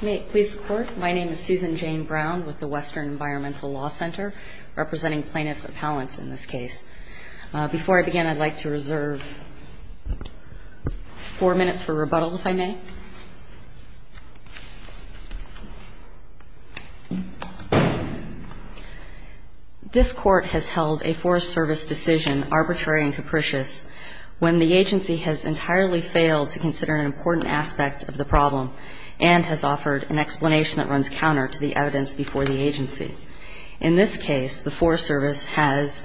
May it please the Court, my name is Susan Jane Brown with the Western Environmental Law Center, representing Plaintiff Appellants in this case. Before I begin, I'd like to reserve four minutes for rebuttal, if I may. This Court has held a Forest Service decision arbitrary and capricious when the agency has entirely failed to consider an important aspect of the problem, and has offered an explanation that runs counter to the evidence before the agency. In this case, the Forest Service has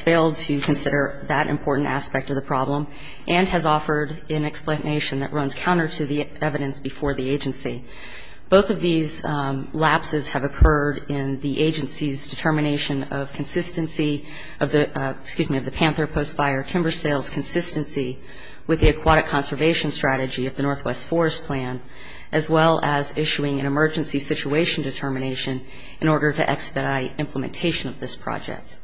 failed to consider that important aspect of the problem, and has offered an explanation that runs counter to the evidence before the agency. Both of these lapses have occurred in the agency's determination of the Panther Post Fire timber sales consistency with the aquatic conservation strategy of the Northwest Forest Plan, as well as issuing an emergency situation determination in order to expedite implementation of this project.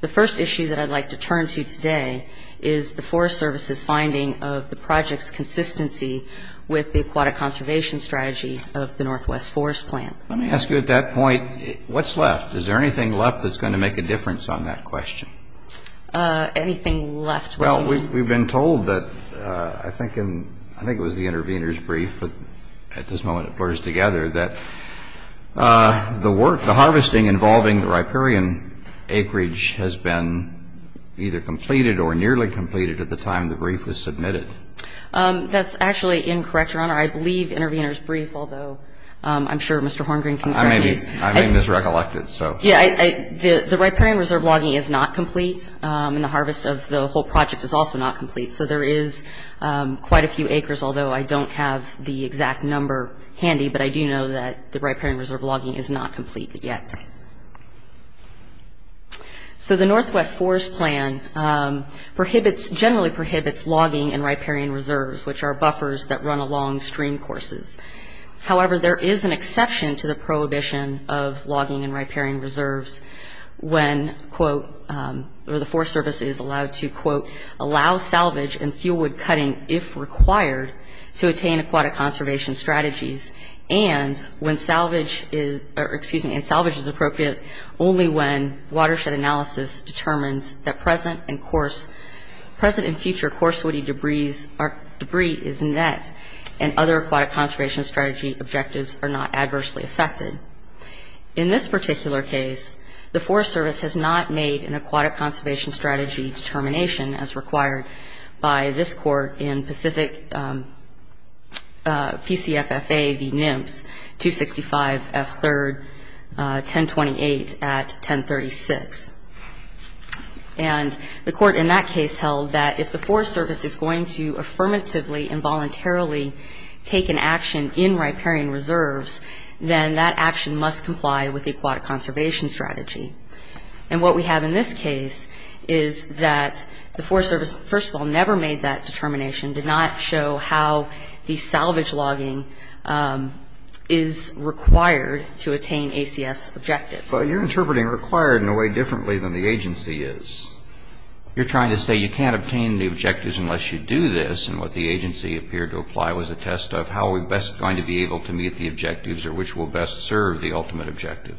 The first issue that I'd like to turn to today is the Forest Service's finding of the project's consistency with the aquatic conservation strategy of the Northwest Forest Plan. Let me ask you at that point, what's left? Is there anything left that's going to make a difference on that question? Anything left? Well, we've been told that, I think it was the intervener's brief, but at this moment it blurs together, that the work, the harvesting involving the riparian acreage has been either completed or nearly completed at the time the brief was submitted. That's actually incorrect, Your Honor. I believe intervener's brief, although I'm sure Mr. Horngreen can correct me. I may have misrecollected, so. Yeah, the riparian reserve logging is not complete, and the harvest of the whole project is also not complete. So there is quite a few acres, although I don't have the exact number handy, but I do know that the riparian reserve logging is not complete yet. So the Northwest Forest Plan generally prohibits logging in riparian reserves, which are buffers that run along streamcourses. However, there is an exception to the prohibition of logging in riparian reserves when, quote, or the Forest Service is allowed to, quote, allow salvage and fuel wood cutting if required to attain aquatic conservation strategies, and when salvage is, excuse me, and salvage is appropriate only when watershed analysis determines that present and course, present and future coarse woody debris is net and other aquatic conservation strategy objectives are not adversely affected. In this particular case, the Forest Service has not made an aquatic conservation strategy determination as required by this court in Pacific PCFFA v. NIMPS 265 F3rd 1028 at 1036. And the court in that case held that if the Forest Service is going to necessarily take an action in riparian reserves, then that action must comply with the aquatic conservation strategy. And what we have in this case is that the Forest Service, first of all, never made that determination, did not show how the salvage logging is required to attain ACS objectives. But you're interpreting required in a way differently than the agency is. You're trying to say you can't obtain the objectives unless you do this, and what the agency appeared to apply was a test of how we're best going to be able to meet the objectives or which will best serve the ultimate objective.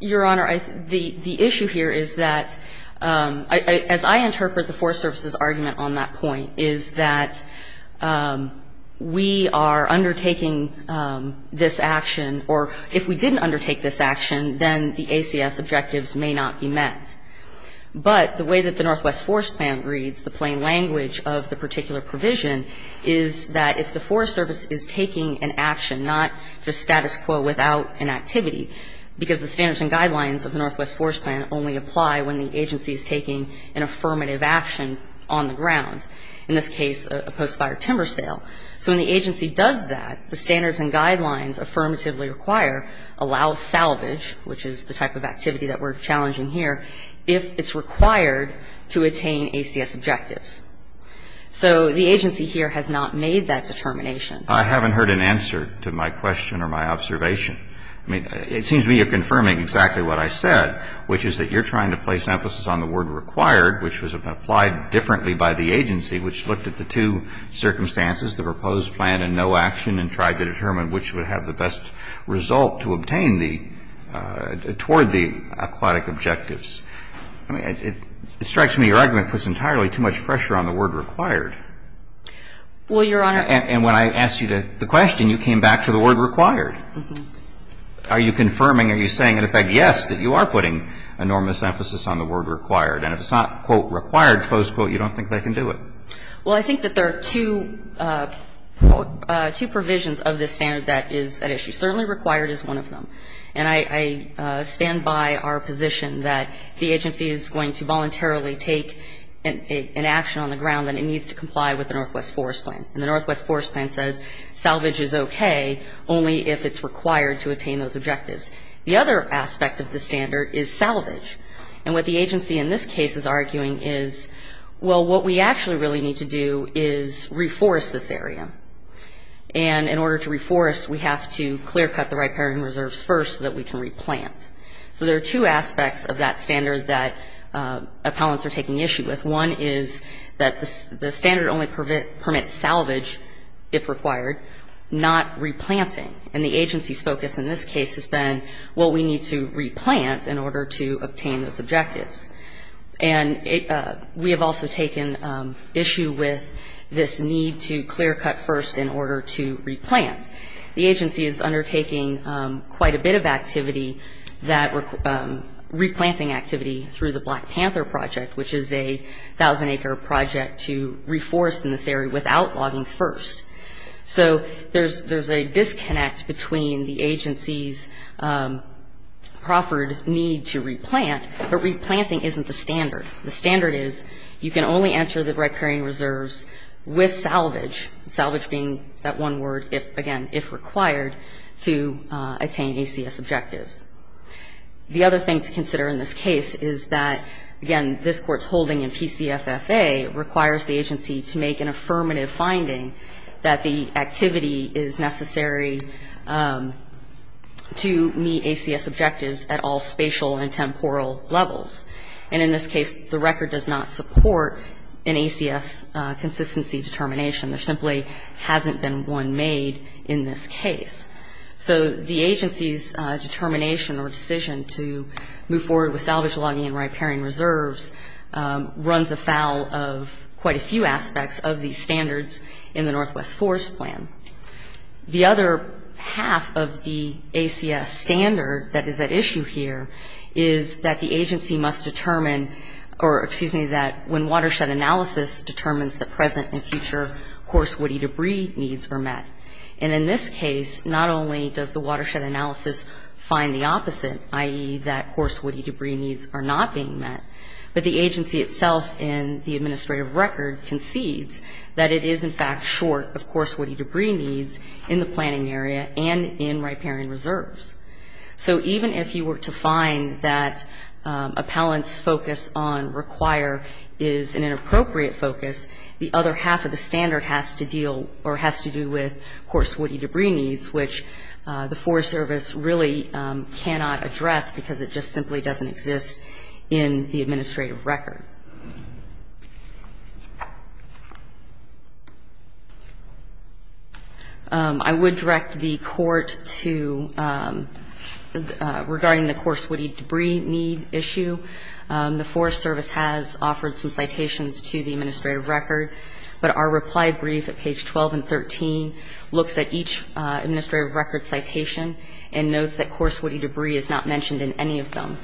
Your Honor, the issue here is that, as I interpret the Forest Service's argument on that point, is that we are undertaking this action, or if we didn't undertake this action, then the ACS objectives may not be met. But the way that the Northwest Forest Plan reads the plain language of the particular provision is that if the Forest Service is taking an action, not just status quo without an activity, because the standards and guidelines of the Northwest Forest Plan only apply when the agency is taking an affirmative action on the ground, in this case a post-fire timber sale. So when the agency does that, the standards and guidelines affirmatively require, allow salvage, which is the type of activity that we're challenging here, if it's required to attain ACS objectives. So the agency here has not made that determination. I haven't heard an answer to my question or my observation. I mean, it seems to me you're confirming exactly what I said, which is that you're trying to place emphasis on the word required, which was applied differently by the agency, which looked at the two circumstances, the proposed plan and no action, and tried to determine which would have the best result to obtain the, toward the aquatic objectives. I mean, it strikes me your argument puts entirely too much pressure on the word required. Well, Your Honor. And when I asked you the question, you came back to the word required. Are you confirming, are you saying, in effect, yes, that you are putting enormous emphasis on the word required? And if it's not, quote, required, close quote, you don't think they can do it? Well, I think that there are two provisions of this standard that is at issue. Certainly required is one of them. And I stand by our position that the agency is going to voluntarily take an action on the ground that it needs to comply with the Northwest Forest Plan. And the Northwest Forest Plan says salvage is okay only if it's required to attain those objectives. The other aspect of the standard is salvage. And what the agency in this case is arguing is, well, what we actually really need to do is reforest this area. And in order to reforest, we have to clear cut the riparian reserves first so that we can replant. So there are two aspects of that standard that appellants are taking issue with. One is that the standard only permits salvage, if required, not replanting. And the agency's focus in this case has been, well, we need to replant in order to obtain those objectives. And we have also taken issue with this need to clear cut first in order to replant. The agency is undertaking quite a bit of activity, replanting activity, through the Black Panther Project, which is a 1,000-acre project to reforest in this area without logging first. So there's a disconnect between the agency's proffered need to replant, but replanting isn't the standard. The standard is you can only enter the riparian reserves with salvage, salvage being that one word, again, if required, to attain ACS objectives. The other thing to consider in this case is that, again, this Court's holding in PCFFA requires the agency to make an affirmative finding that the activity is necessary to meet ACS objectives at all spatial and temporal levels. And in this case, the record does not support an ACS consistency determination. There simply hasn't been one made in this case. So the agency's determination or decision to move forward with salvage logging and riparian reserves runs afoul of quite a few aspects of these standards in the Northwest Forest Plan. The other half of the ACS standard that is at issue here is that the agency must determine, or excuse me, that when watershed analysis determines the present and future horse woody debris needs are met. And in this case, not only does the watershed analysis find the opposite, i.e., that horse woody debris needs are not being met, but the agency itself in the administrative record concedes that it is, in fact, short of horse woody debris needs in the planning area and in riparian reserves. So even if you were to find that appellant's focus on require is an inappropriate focus, the other half of the standard has to deal or has to do with horse woody debris needs, which the Forest Service really cannot address because it just simply doesn't exist in the administrative record. I would direct the Court to, regarding the horse woody debris need issue, the Forest Service has offered some citations to the administrative record, but our reply brief at page 12 and 13 looks at each administrative record citation and notes that horse woody debris is not mentioned in any of them.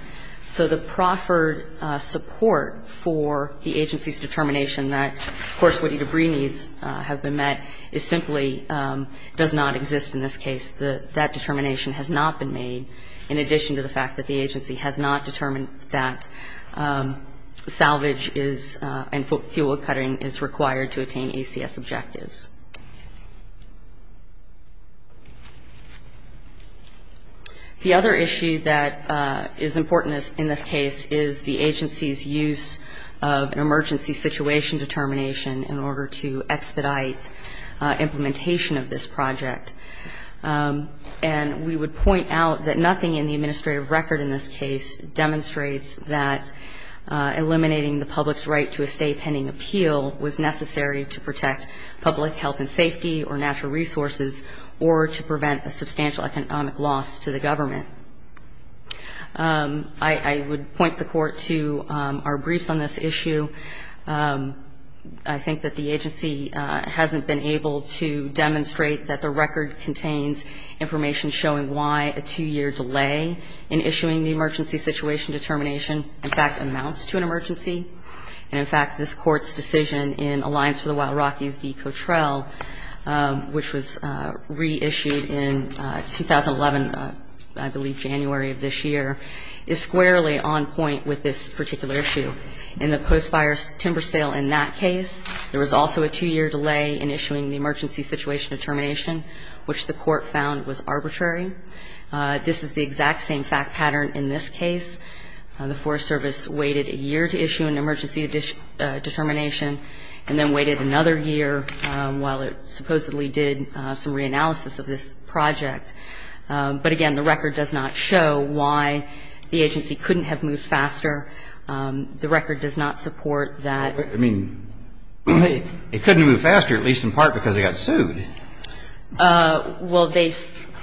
So the proffered support for the agency's determination that horse woody debris needs have been met simply does not exist in this case. That determination has not been made in addition to the fact that the agency has not determined that salvage and fuel cutting is required to attain ACS objectives. The other issue that is important in this case is the agency's use of an emergency situation determination in order to expedite implementation of this project. And we would point out that nothing in the administrative record in this case demonstrates that eliminating the public's right to a stay pending appeal was necessary to protect public health and safety or natural resources or to prevent a substantial economic loss to the government. I would point the Court to our briefs on this issue. I think that the agency hasn't been able to demonstrate that the record contains information showing why a two-year delay in issuing the emergency situation determination, in fact, amounts to an emergency. And, in fact, this Court's decision in Alliance for the Wild Rockies v. Cottrell, which was reissued in 2011, I believe January of this year, is squarely on point with this particular issue. In the post-fire timber sale in that case, there was also a two-year delay in issuing the emergency situation determination, which the Court found was arbitrary. This is the exact same fact pattern in this case. The Forest Service waited a year to issue an emergency determination and then waited another year while it supposedly did some reanalysis of this project. But, again, the record does not show why the agency couldn't have moved faster. The record does not support that. I mean, they couldn't have moved faster, at least in part, because they got sued. Well, they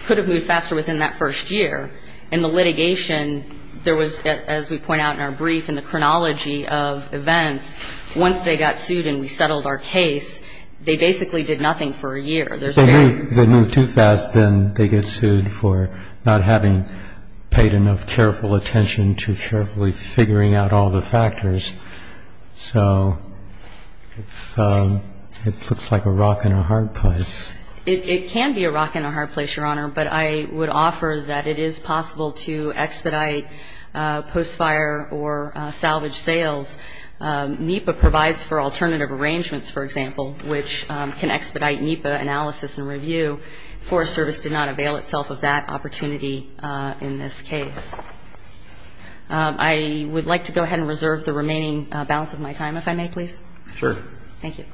could have moved faster within that first year. In the litigation, there was, as we point out in our brief, in the chronology of events, once they got sued and we settled our case, they basically did nothing for a year. If they move too fast, then they get sued for not having paid enough careful attention to carefully figuring out all the factors. So it looks like a rock and a hard place. It can be a rock and a hard place, Your Honor, but I would offer that it is possible to expedite post-fire or salvage sales. NEPA provides for alternative arrangements, for example, which can expedite NEPA analysis and review. Forest Service did not avail itself of that opportunity in this case. I would like to go ahead and reserve the remaining balance of my time, if I may, please. Sure. Thank you. Thank you.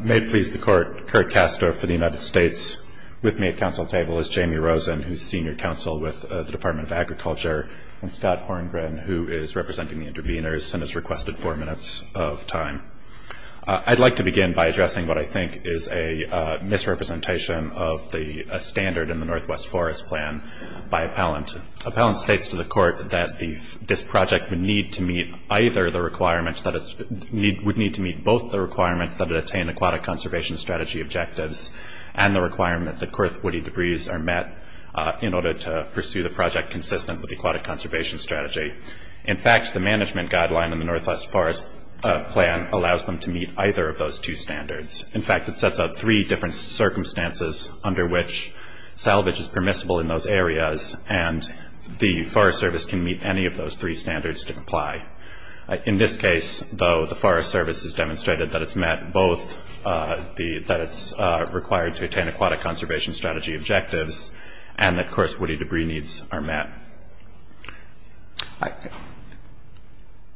May it please the Court, Curt Castor for the United States with me at council table is Jamie Rosen, who is senior counsel with the Department of Agriculture, and Scott Horngren, who is representing the intervenors and has requested four minutes of time. I'd like to begin by addressing what I think is a misrepresentation of a standard in the Northwest Forest Plan by appellant. Appellant states to the Court that this project would need to meet both the requirement that it attain aquatic conservation strategy objectives and the requirement that kirth woody debris are met in order to pursue the project consistent with aquatic conservation strategy. In fact, the management guideline in the Northwest Forest Plan allows them to meet either of those two standards. In fact, it sets out three different circumstances under which salvage is permissible in those areas, and the Forest Service can meet any of those three standards to comply. In this case, though, the Forest Service has demonstrated that it's met both, that it's required to attain aquatic conservation strategy objectives, and that kirth woody debris needs are met.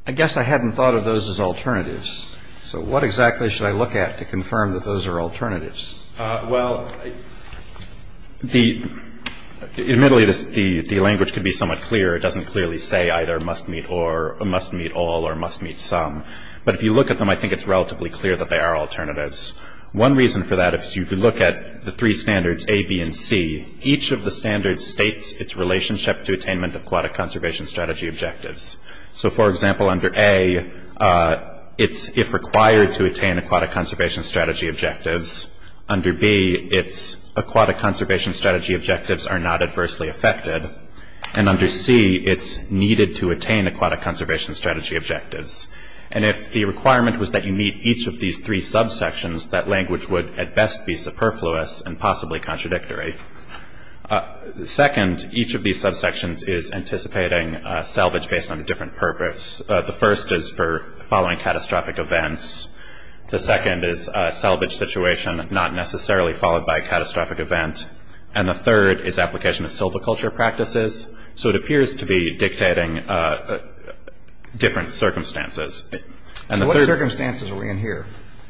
I guess I hadn't thought of those as alternatives, so what exactly should I look at to confirm that those are alternatives? Well, admittedly, the language could be somewhat clearer. It doesn't clearly say either must meet all or must meet some. But if you look at them, I think it's relatively clear that they are alternatives. One reason for that is if you look at the three standards, A, B, and C, each of the standards states its relationship to attainment of aquatic conservation strategy objectives. So, for example, under A, it's if required to attain aquatic conservation strategy objectives. Under B, it's aquatic conservation strategy objectives are not adversely affected. And under C, it's needed to attain aquatic conservation strategy objectives. And if the requirement was that you meet each of these three subsections, that language would at best be superfluous and possibly contradictory. Second, each of these subsections is anticipating salvage based on a different purpose. The first is for following catastrophic events. The second is a salvage situation not necessarily followed by a catastrophic event. And the third is application of silviculture practices. So it appears to be dictating different circumstances. And the third- What circumstances are we in here?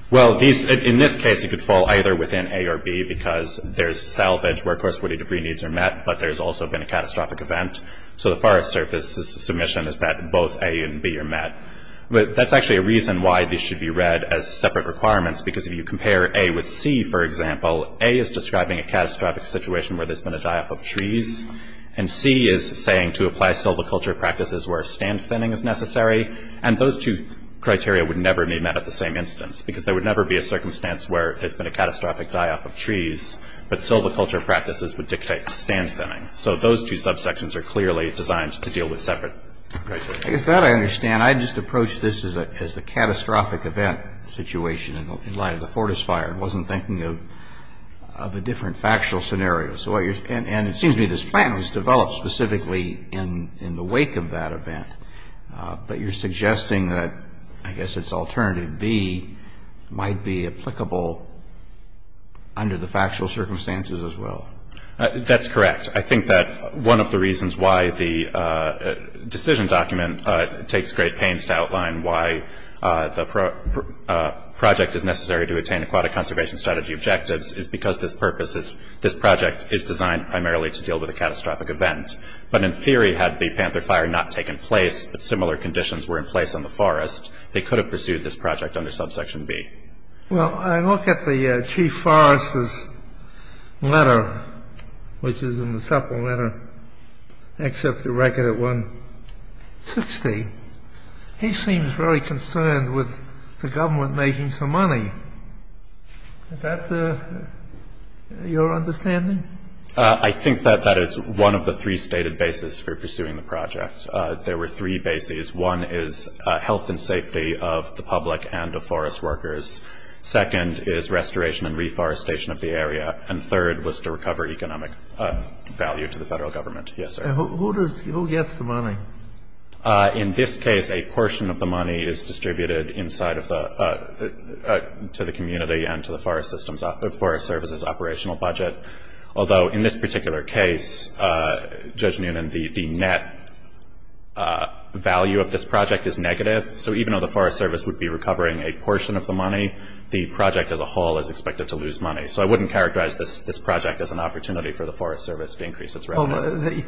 Well, in this case, it could fall either within A or B because there's salvage where, of course, woody debris needs are met, but there's also been a catastrophic event. So the farthest submission is that both A and B are met. But that's actually a reason why these should be read as separate requirements because if you compare A with C, for example, A is describing a catastrophic situation where there's been a die-off of trees, and C is saying to apply silviculture practices where stand thinning is necessary. And those two criteria would never be met at the same instance because there would never be a circumstance where there's been a catastrophic die-off of trees, but silviculture practices would dictate stand thinning. So those two subsections are clearly designed to deal with separate criteria. I guess that I understand. I just approached this as the catastrophic event situation in light of the Fortis fire and wasn't thinking of the different factual scenarios. And it seems to me this plan was developed specifically in the wake of that event, but you're suggesting that I guess it's alternative B might be applicable under the factual circumstances as well. That's correct. I think that one of the reasons why the decision document takes great pains to outline why the project is necessary to attain aquatic conservation strategy objectives is because this purpose is this project is designed primarily to deal with a catastrophic event. But in theory, had the Panther fire not taken place, but similar conditions were in place in the forest, they could have pursued this project under subsection B. Well, I look at the chief forest's letter, which is in the supple letter, except the record at 160. He seems very concerned with the government making some money. Is that your understanding? I think that that is one of the three stated bases for pursuing the project. There were three bases. One is health and safety of the public and of forest workers. Second is restoration and reforestation of the area. And third was to recover economic value to the Federal Government. Yes, sir. Who gets the money? In this case, a portion of the money is distributed inside of the to the community and to the Forest Service's operational budget. Although in this particular case, Judge Noonan, the net value of this project is negative. So even though the Forest Service would be recovering a portion of the money, the project as a whole is expected to lose money. So I wouldn't characterize this project as an opportunity for the Forest Service to increase its revenue.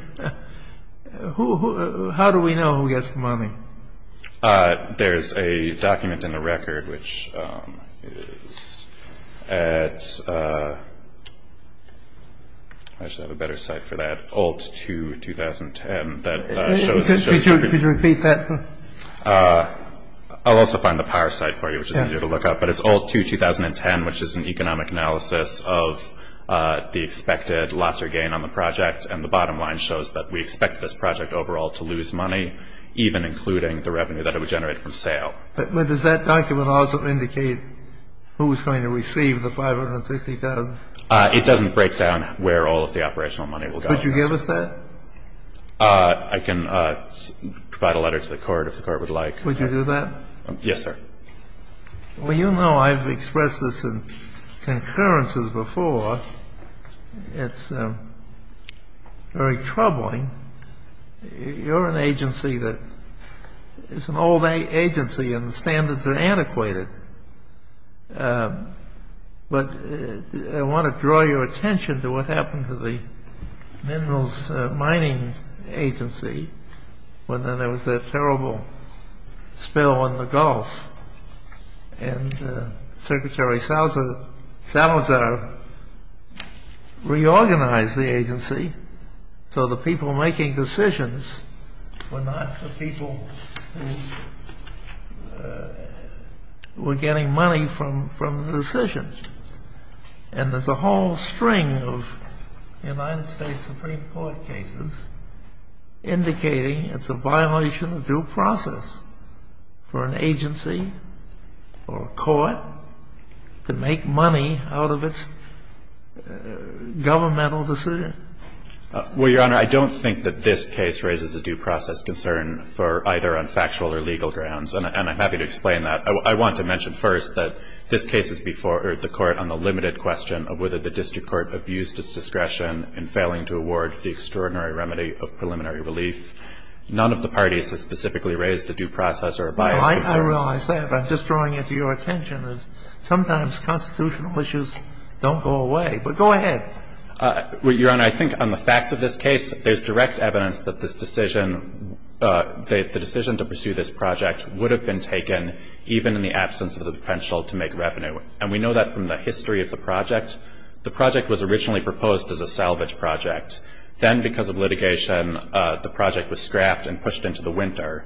How do we know who gets the money? There's a document in the record, which is at, I should have a better site for that, Alt 2, 2010 that shows. Could you repeat that? I'll also find the power site for you, which is easier to look up. But it's Alt 2, 2010, which is an economic analysis of the expected loss or gain on the project. And the bottom line shows that we expect this project overall to lose money, even including the revenue that it would generate from sale. But does that document also indicate who is going to receive the $560,000? It doesn't break down where all of the operational money will go. Could you give us that? I can provide a letter to the Court, if the Court would like. Would you do that? Yes, sir. Well, you know I've expressed this in concurrences before. It's very troubling. You're an agency that is an old agency, and the standards are antiquated. But I want to draw your attention to what happened to the minerals mining agency when there was that terrible spill in the Gulf. And Secretary Salazar reorganized the agency so the people making decisions were not the people who were getting money from decisions. And there's a whole string of United States Supreme Court cases indicating it's a violation of due process for an agency or a court to make money out of its governmental decision. Well, Your Honor, I don't think that this case raises a due process concern for either on factual or legal grounds, and I'm happy to explain that. I want to mention first that this case is before the Court on the limited question of whether the district court abused its discretion in failing to award the extraordinary remedy of preliminary relief. None of the parties has specifically raised a due process or a bias concern. I realize that, but I'm just drawing it to your attention as sometimes constitutional issues don't go away. But go ahead. Your Honor, I think on the facts of this case, there's direct evidence that this decision, the decision to pursue this project would have been taken even in the absence of the potential to make revenue. And we know that from the history of the project. The project was originally proposed as a salvage project. Then because of litigation, the project was scrapped and pushed into the winter.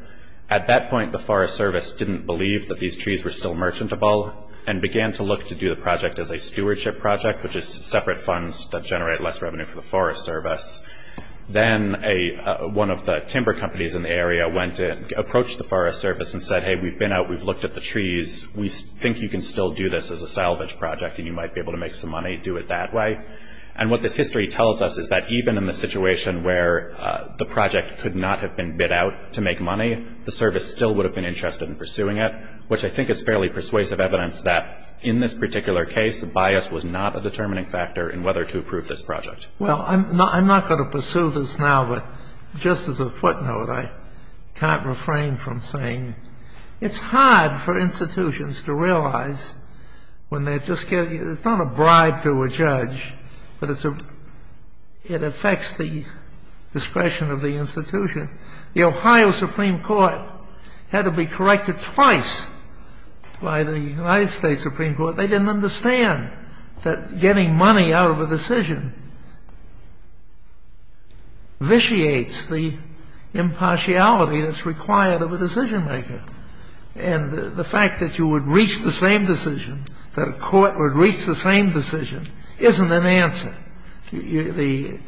At that point, the Forest Service didn't believe that these trees were still merchantable and began to look to do the project as a stewardship project, which is separate funds that generate less revenue for the Forest Service. Then one of the timber companies in the area went and approached the Forest Service and said, hey, we've been out, we've looked at the trees, we think you can still do this as a salvage project and you might be able to make some money, do it that way. And what this history tells us is that even in the situation where the project could not have been bid out to make money, the service still would have been interested in pursuing it, which I think is fairly persuasive evidence that in this particular case, bias was not a determining factor in whether to approve this project. Well, I'm not going to pursue this now, but just as a footnote, I can't refrain from saying it's hard for institutions to realize when they're just getting, it's not a bribe to a judge, but it affects the discretion of the institution. The Ohio Supreme Court had to be corrected twice by the United States Supreme Court. But they didn't understand that getting money out of a decision vitiates the impartiality that's required of a decision maker. And the fact that you would reach the same decision, that a court would reach the same decision, isn't an answer. You're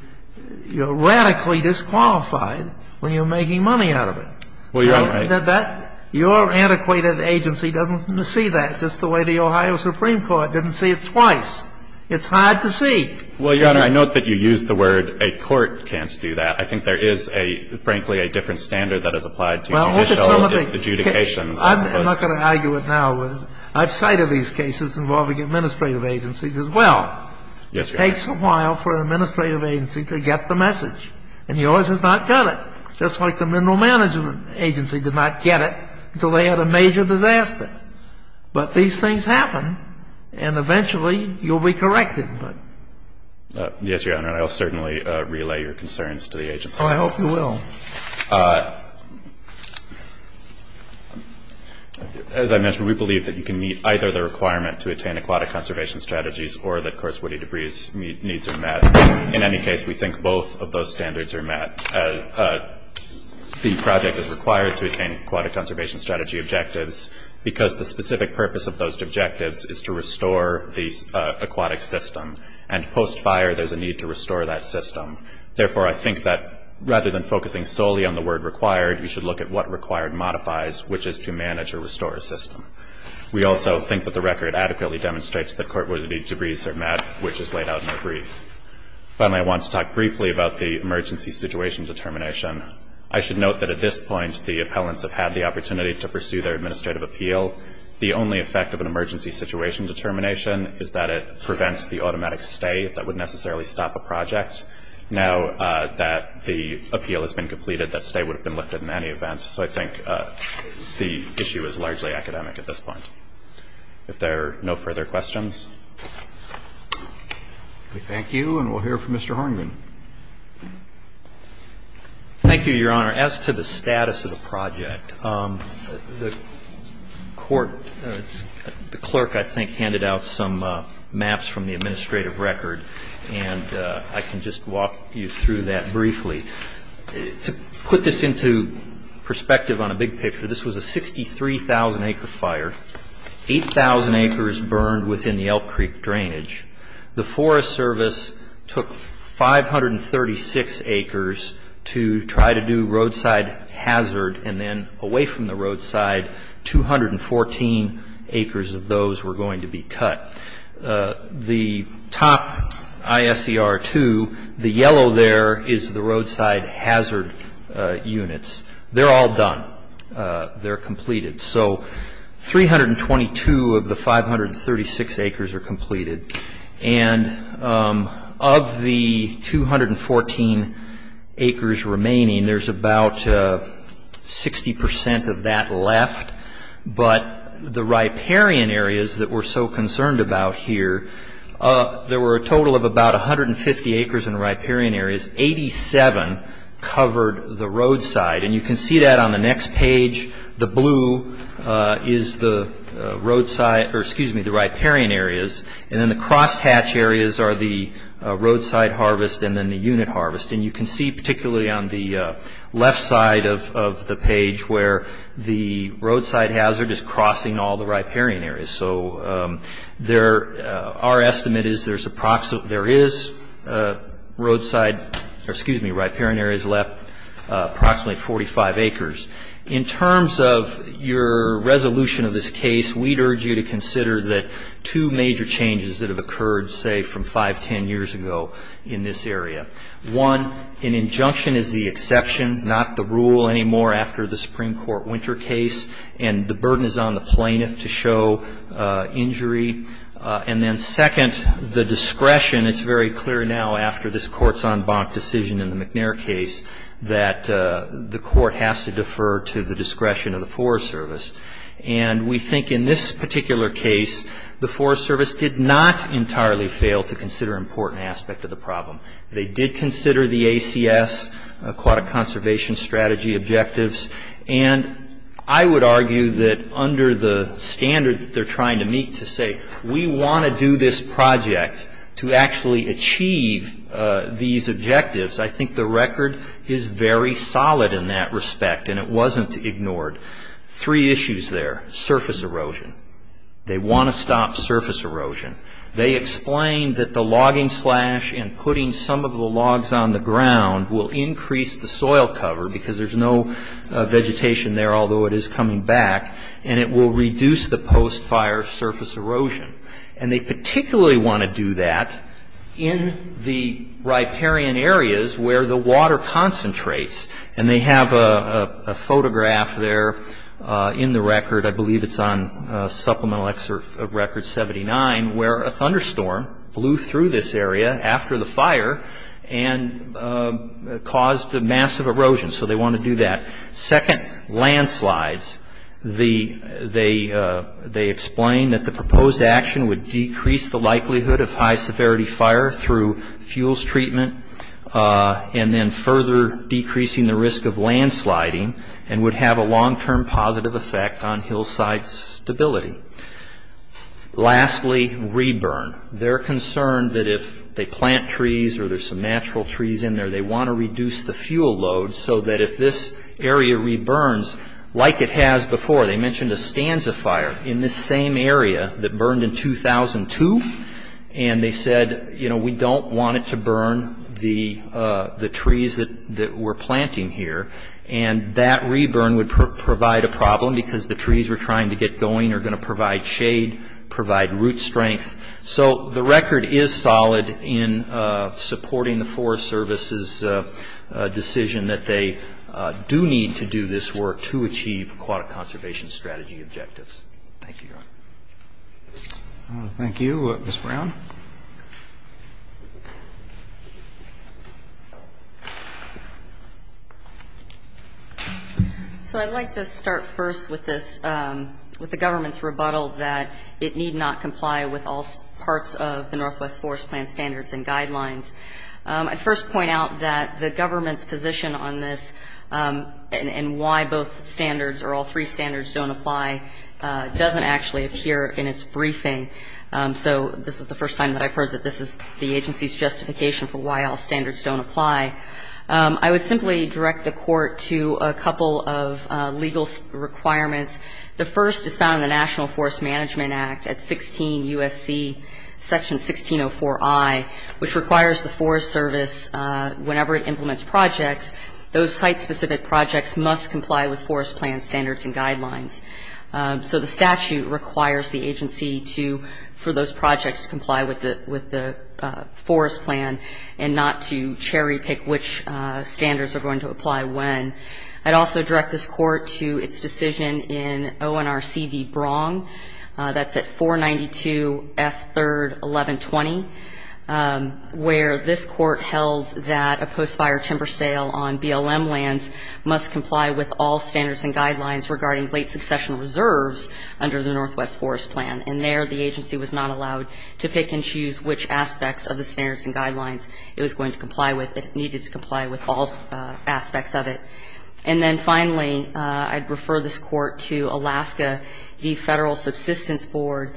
radically disqualified when you're making money out of it. Your antiquated agency doesn't see that just the way the Ohio Supreme Court didn't see it twice. It's hard to see. Well, Your Honor, I note that you used the word a court can't do that. I think there is a, frankly, a different standard that is applied to judicial adjudications. I'm not going to argue it now. I've cited these cases involving administrative agencies as well. Yes, Your Honor. It takes a while for an administrative agency to get the message. And yours has not got it. Just like the mineral management agency did not get it until they had a major disaster. But these things happen, and eventually you'll be corrected. Yes, Your Honor. I'll certainly relay your concerns to the agency. I hope you will. As I mentioned, we believe that you can meet either the requirement to attain aquatic conservation strategies or the courts' woody debris needs are met. In any case, we think both of those standards are met. The project is required to attain aquatic conservation strategy objectives because the specific purpose of those objectives is to restore the aquatic system. And post-fire, there's a need to restore that system. Therefore, I think that rather than focusing solely on the word required, you should look at what required modifies, which is to manage or restore a system. We also think that the record adequately demonstrates that court woody debris are met, which is laid out in the brief. Finally, I want to talk briefly about the emergency situation determination. I should note that at this point the appellants have had the opportunity to pursue their administrative appeal. The only effect of an emergency situation determination is that it prevents the automatic stay that would necessarily stop a project. Now that the appeal has been completed, that stay would have been lifted in any event. So I think the issue is largely academic at this point. If there are no further questions. Thank you. And we'll hear from Mr. Horniman. Thank you, Your Honor. As to the status of the project, the court, the clerk, I think, handed out some maps from the administrative record, and I can just walk you through that briefly. To put this into perspective on a big picture, this was a 63,000-acre fire. 8,000 acres burned within the Elk Creek drainage. The Forest Service took 536 acres to try to do roadside hazard, and then away from the roadside, 214 acres of those were going to be cut. The top ISER-2, the yellow there is the roadside hazard units. They're all done. They're completed. So 322 of the 536 acres are completed. And of the 214 acres remaining, there's about 60 percent of that left, but the riparian areas that we're so concerned about here, there were a total of about 150 acres in the riparian areas. Eighty-seven covered the roadside, and you can see that on the next page. The blue is the riparian areas, and then the crosshatch areas are the roadside harvest and then the unit harvest. And you can see particularly on the left side of the page where the roadside hazard is crossing all the riparian areas. So our estimate is there is riparian areas left approximately 45 acres. In terms of your resolution of this case, we'd urge you to consider the two major changes that have occurred, say, from five, ten years ago in this area. One, an injunction is the exception, not the rule anymore after the Supreme Court Winter case, and the burden is on the plaintiff to show injury. And then second, the discretion, it's very clear now after this Court's en banc decision in the McNair case, that the Court has to defer to the discretion of the Forest Service. And we think in this particular case, the Forest Service did not entirely fail to consider an important aspect of the problem. They did consider the ACS, Aquatic Conservation Strategy objectives, and I would argue that under the standard that they're trying to meet to say, we want to do this project to actually achieve these objectives, I think the record is very solid in that respect, and it wasn't ignored. Three issues there, surface erosion. They want to stop surface erosion. They explained that the logging slash and putting some of the logs on the ground will increase the soil cover because there's no vegetation there, although it is coming back, and it will reduce the post-fire surface erosion. And they particularly want to do that in the riparian areas where the water concentrates, and they have a photograph there in the record, I believe it's on supplemental record 79, where a thunderstorm blew through this area after the fire and caused massive erosion. So they want to do that. Second, landslides. They explained that the proposed action would decrease the likelihood of high-severity fire through fuels treatment and then further decreasing the risk of landsliding and would have a long-term positive effect on hillside stability. Lastly, re-burn. They're concerned that if they plant trees or there's some natural trees in there, they want to reduce the fuel load so that if this area re-burns, like it has before, they mentioned a stanza fire in this same area that burned in 2002, and they said, you know, we don't want it to burn the trees that we're planting here, and that re-burn would provide a problem because the trees we're trying to get going are going to provide shade, provide root strength. So the record is solid in supporting the Forest Service's decision that they do need to do this work to achieve aquatic conservation strategy objectives. Thank you. Thank you. Ms. Brown. So I'd like to start first with the government's rebuttal that it need not comply with all parts of the Northwest Forest Plan standards and guidelines. I'd first point out that the government's position on this and why both standards or all three standards don't apply doesn't actually appear in its briefing. So this is the first time that I've heard that this is the agency's justification for why all standards don't apply. I would simply direct the Court to a couple of legal requirements. The first is found in the National Forest Management Act at 16 U.S.C. section 1604I, which requires the Forest Service, whenever it implements projects, those site-specific projects must comply with Forest Plan standards and guidelines. So the statute requires the agency for those projects to comply with the Forest Plan and not to cherry-pick which standards are going to apply when. I'd also direct this Court to its decision in ONRC v. Brong. That's at 492 F. 3rd. 1120, where this Court held that a post-fire timber sale on BLM lands must comply with all standards and guidelines regarding late-successional reserves under the Northwest Forest Plan. And there the agency was not allowed to pick and choose which aspects of the standards and guidelines it was going to comply with if it needed to comply with all aspects of it. And then finally, I'd refer this Court to Alaska v. Federal Subsistence Board,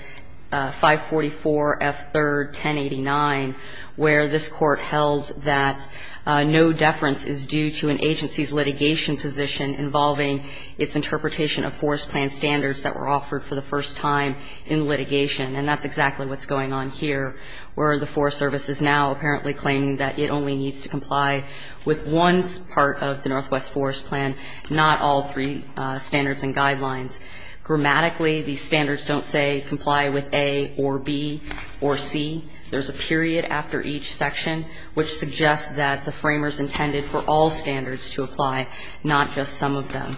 544 F. 3rd. 1089, where this Court held that no deference is due to an agency's litigation position involving its interpretation of Forest Plan standards that were offered for the first time in litigation. And that's exactly what's going on here, where the Forest Service is now apparently claiming that it only needs to comply with one part of the Northwest Forest Plan, not all three standards and guidelines. Grammatically, these standards don't say comply with A or B or C. There's a period after each section which suggests that the framers intended for all standards to apply, not just some of them.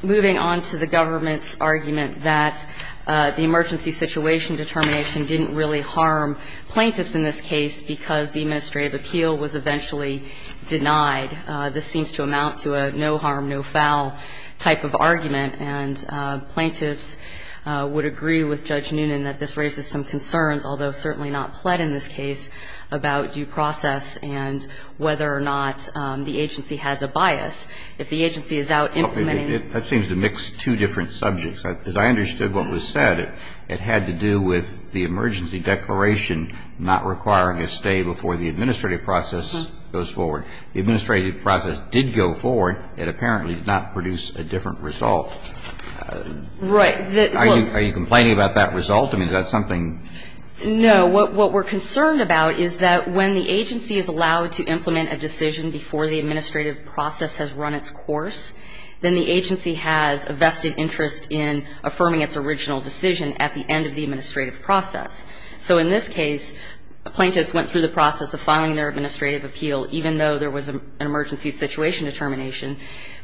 Moving on to the government's argument that the emergency situation determination didn't really harm plaintiffs in this case because the administrative appeal was eventually denied. This seems to amount to a no harm, no foul type of argument. And plaintiffs would agree with Judge Noonan that this raises some concerns, although certainly not Plett in this case, about due process and whether or not the agency has a bias. If the agency is out implementing it. Roberts, that seems to mix two different subjects. As I understood what was said, it had to do with the emergency declaration not requiring a stay before the administrative process goes forward. The administrative process did go forward. It apparently did not produce a different result. Right. Are you complaining about that result? I mean, is that something? No. What we're concerned about is that when the agency is allowed to implement a decision before the administrative process has run its course, then the agency has a vested interest in affirming its original decision at the end of the administrative process. So in this case, plaintiffs went through the process of filing their administrative appeal, even though there was an emergency situation determination,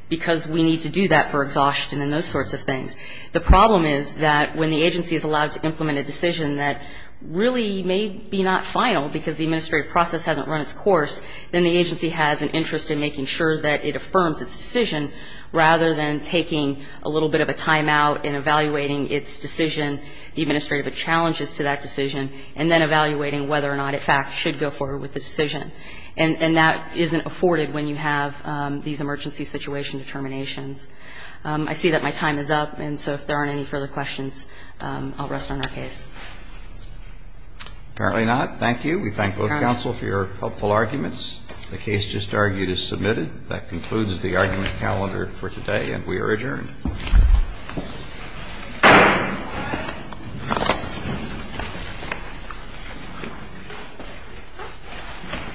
because we need to do that for exhaustion and those sorts of things. The problem is that when the agency is allowed to implement a decision that really may be not final because the administrative process hasn't run its course, then the agency has an interest in making sure that it affirms its decision rather than taking a little bit of a timeout in evaluating its decision, the administrative challenges to that decision, and then evaluating whether or not it, in fact, should go forward with the decision. And that isn't afforded when you have these emergency situation determinations. I see that my time is up, and so if there aren't any further questions, I'll rest on our case. Apparently not. Thank you. We thank both counsel for your helpful arguments. The case just argued is submitted. That concludes the argument calendar for today, and we are adjourned.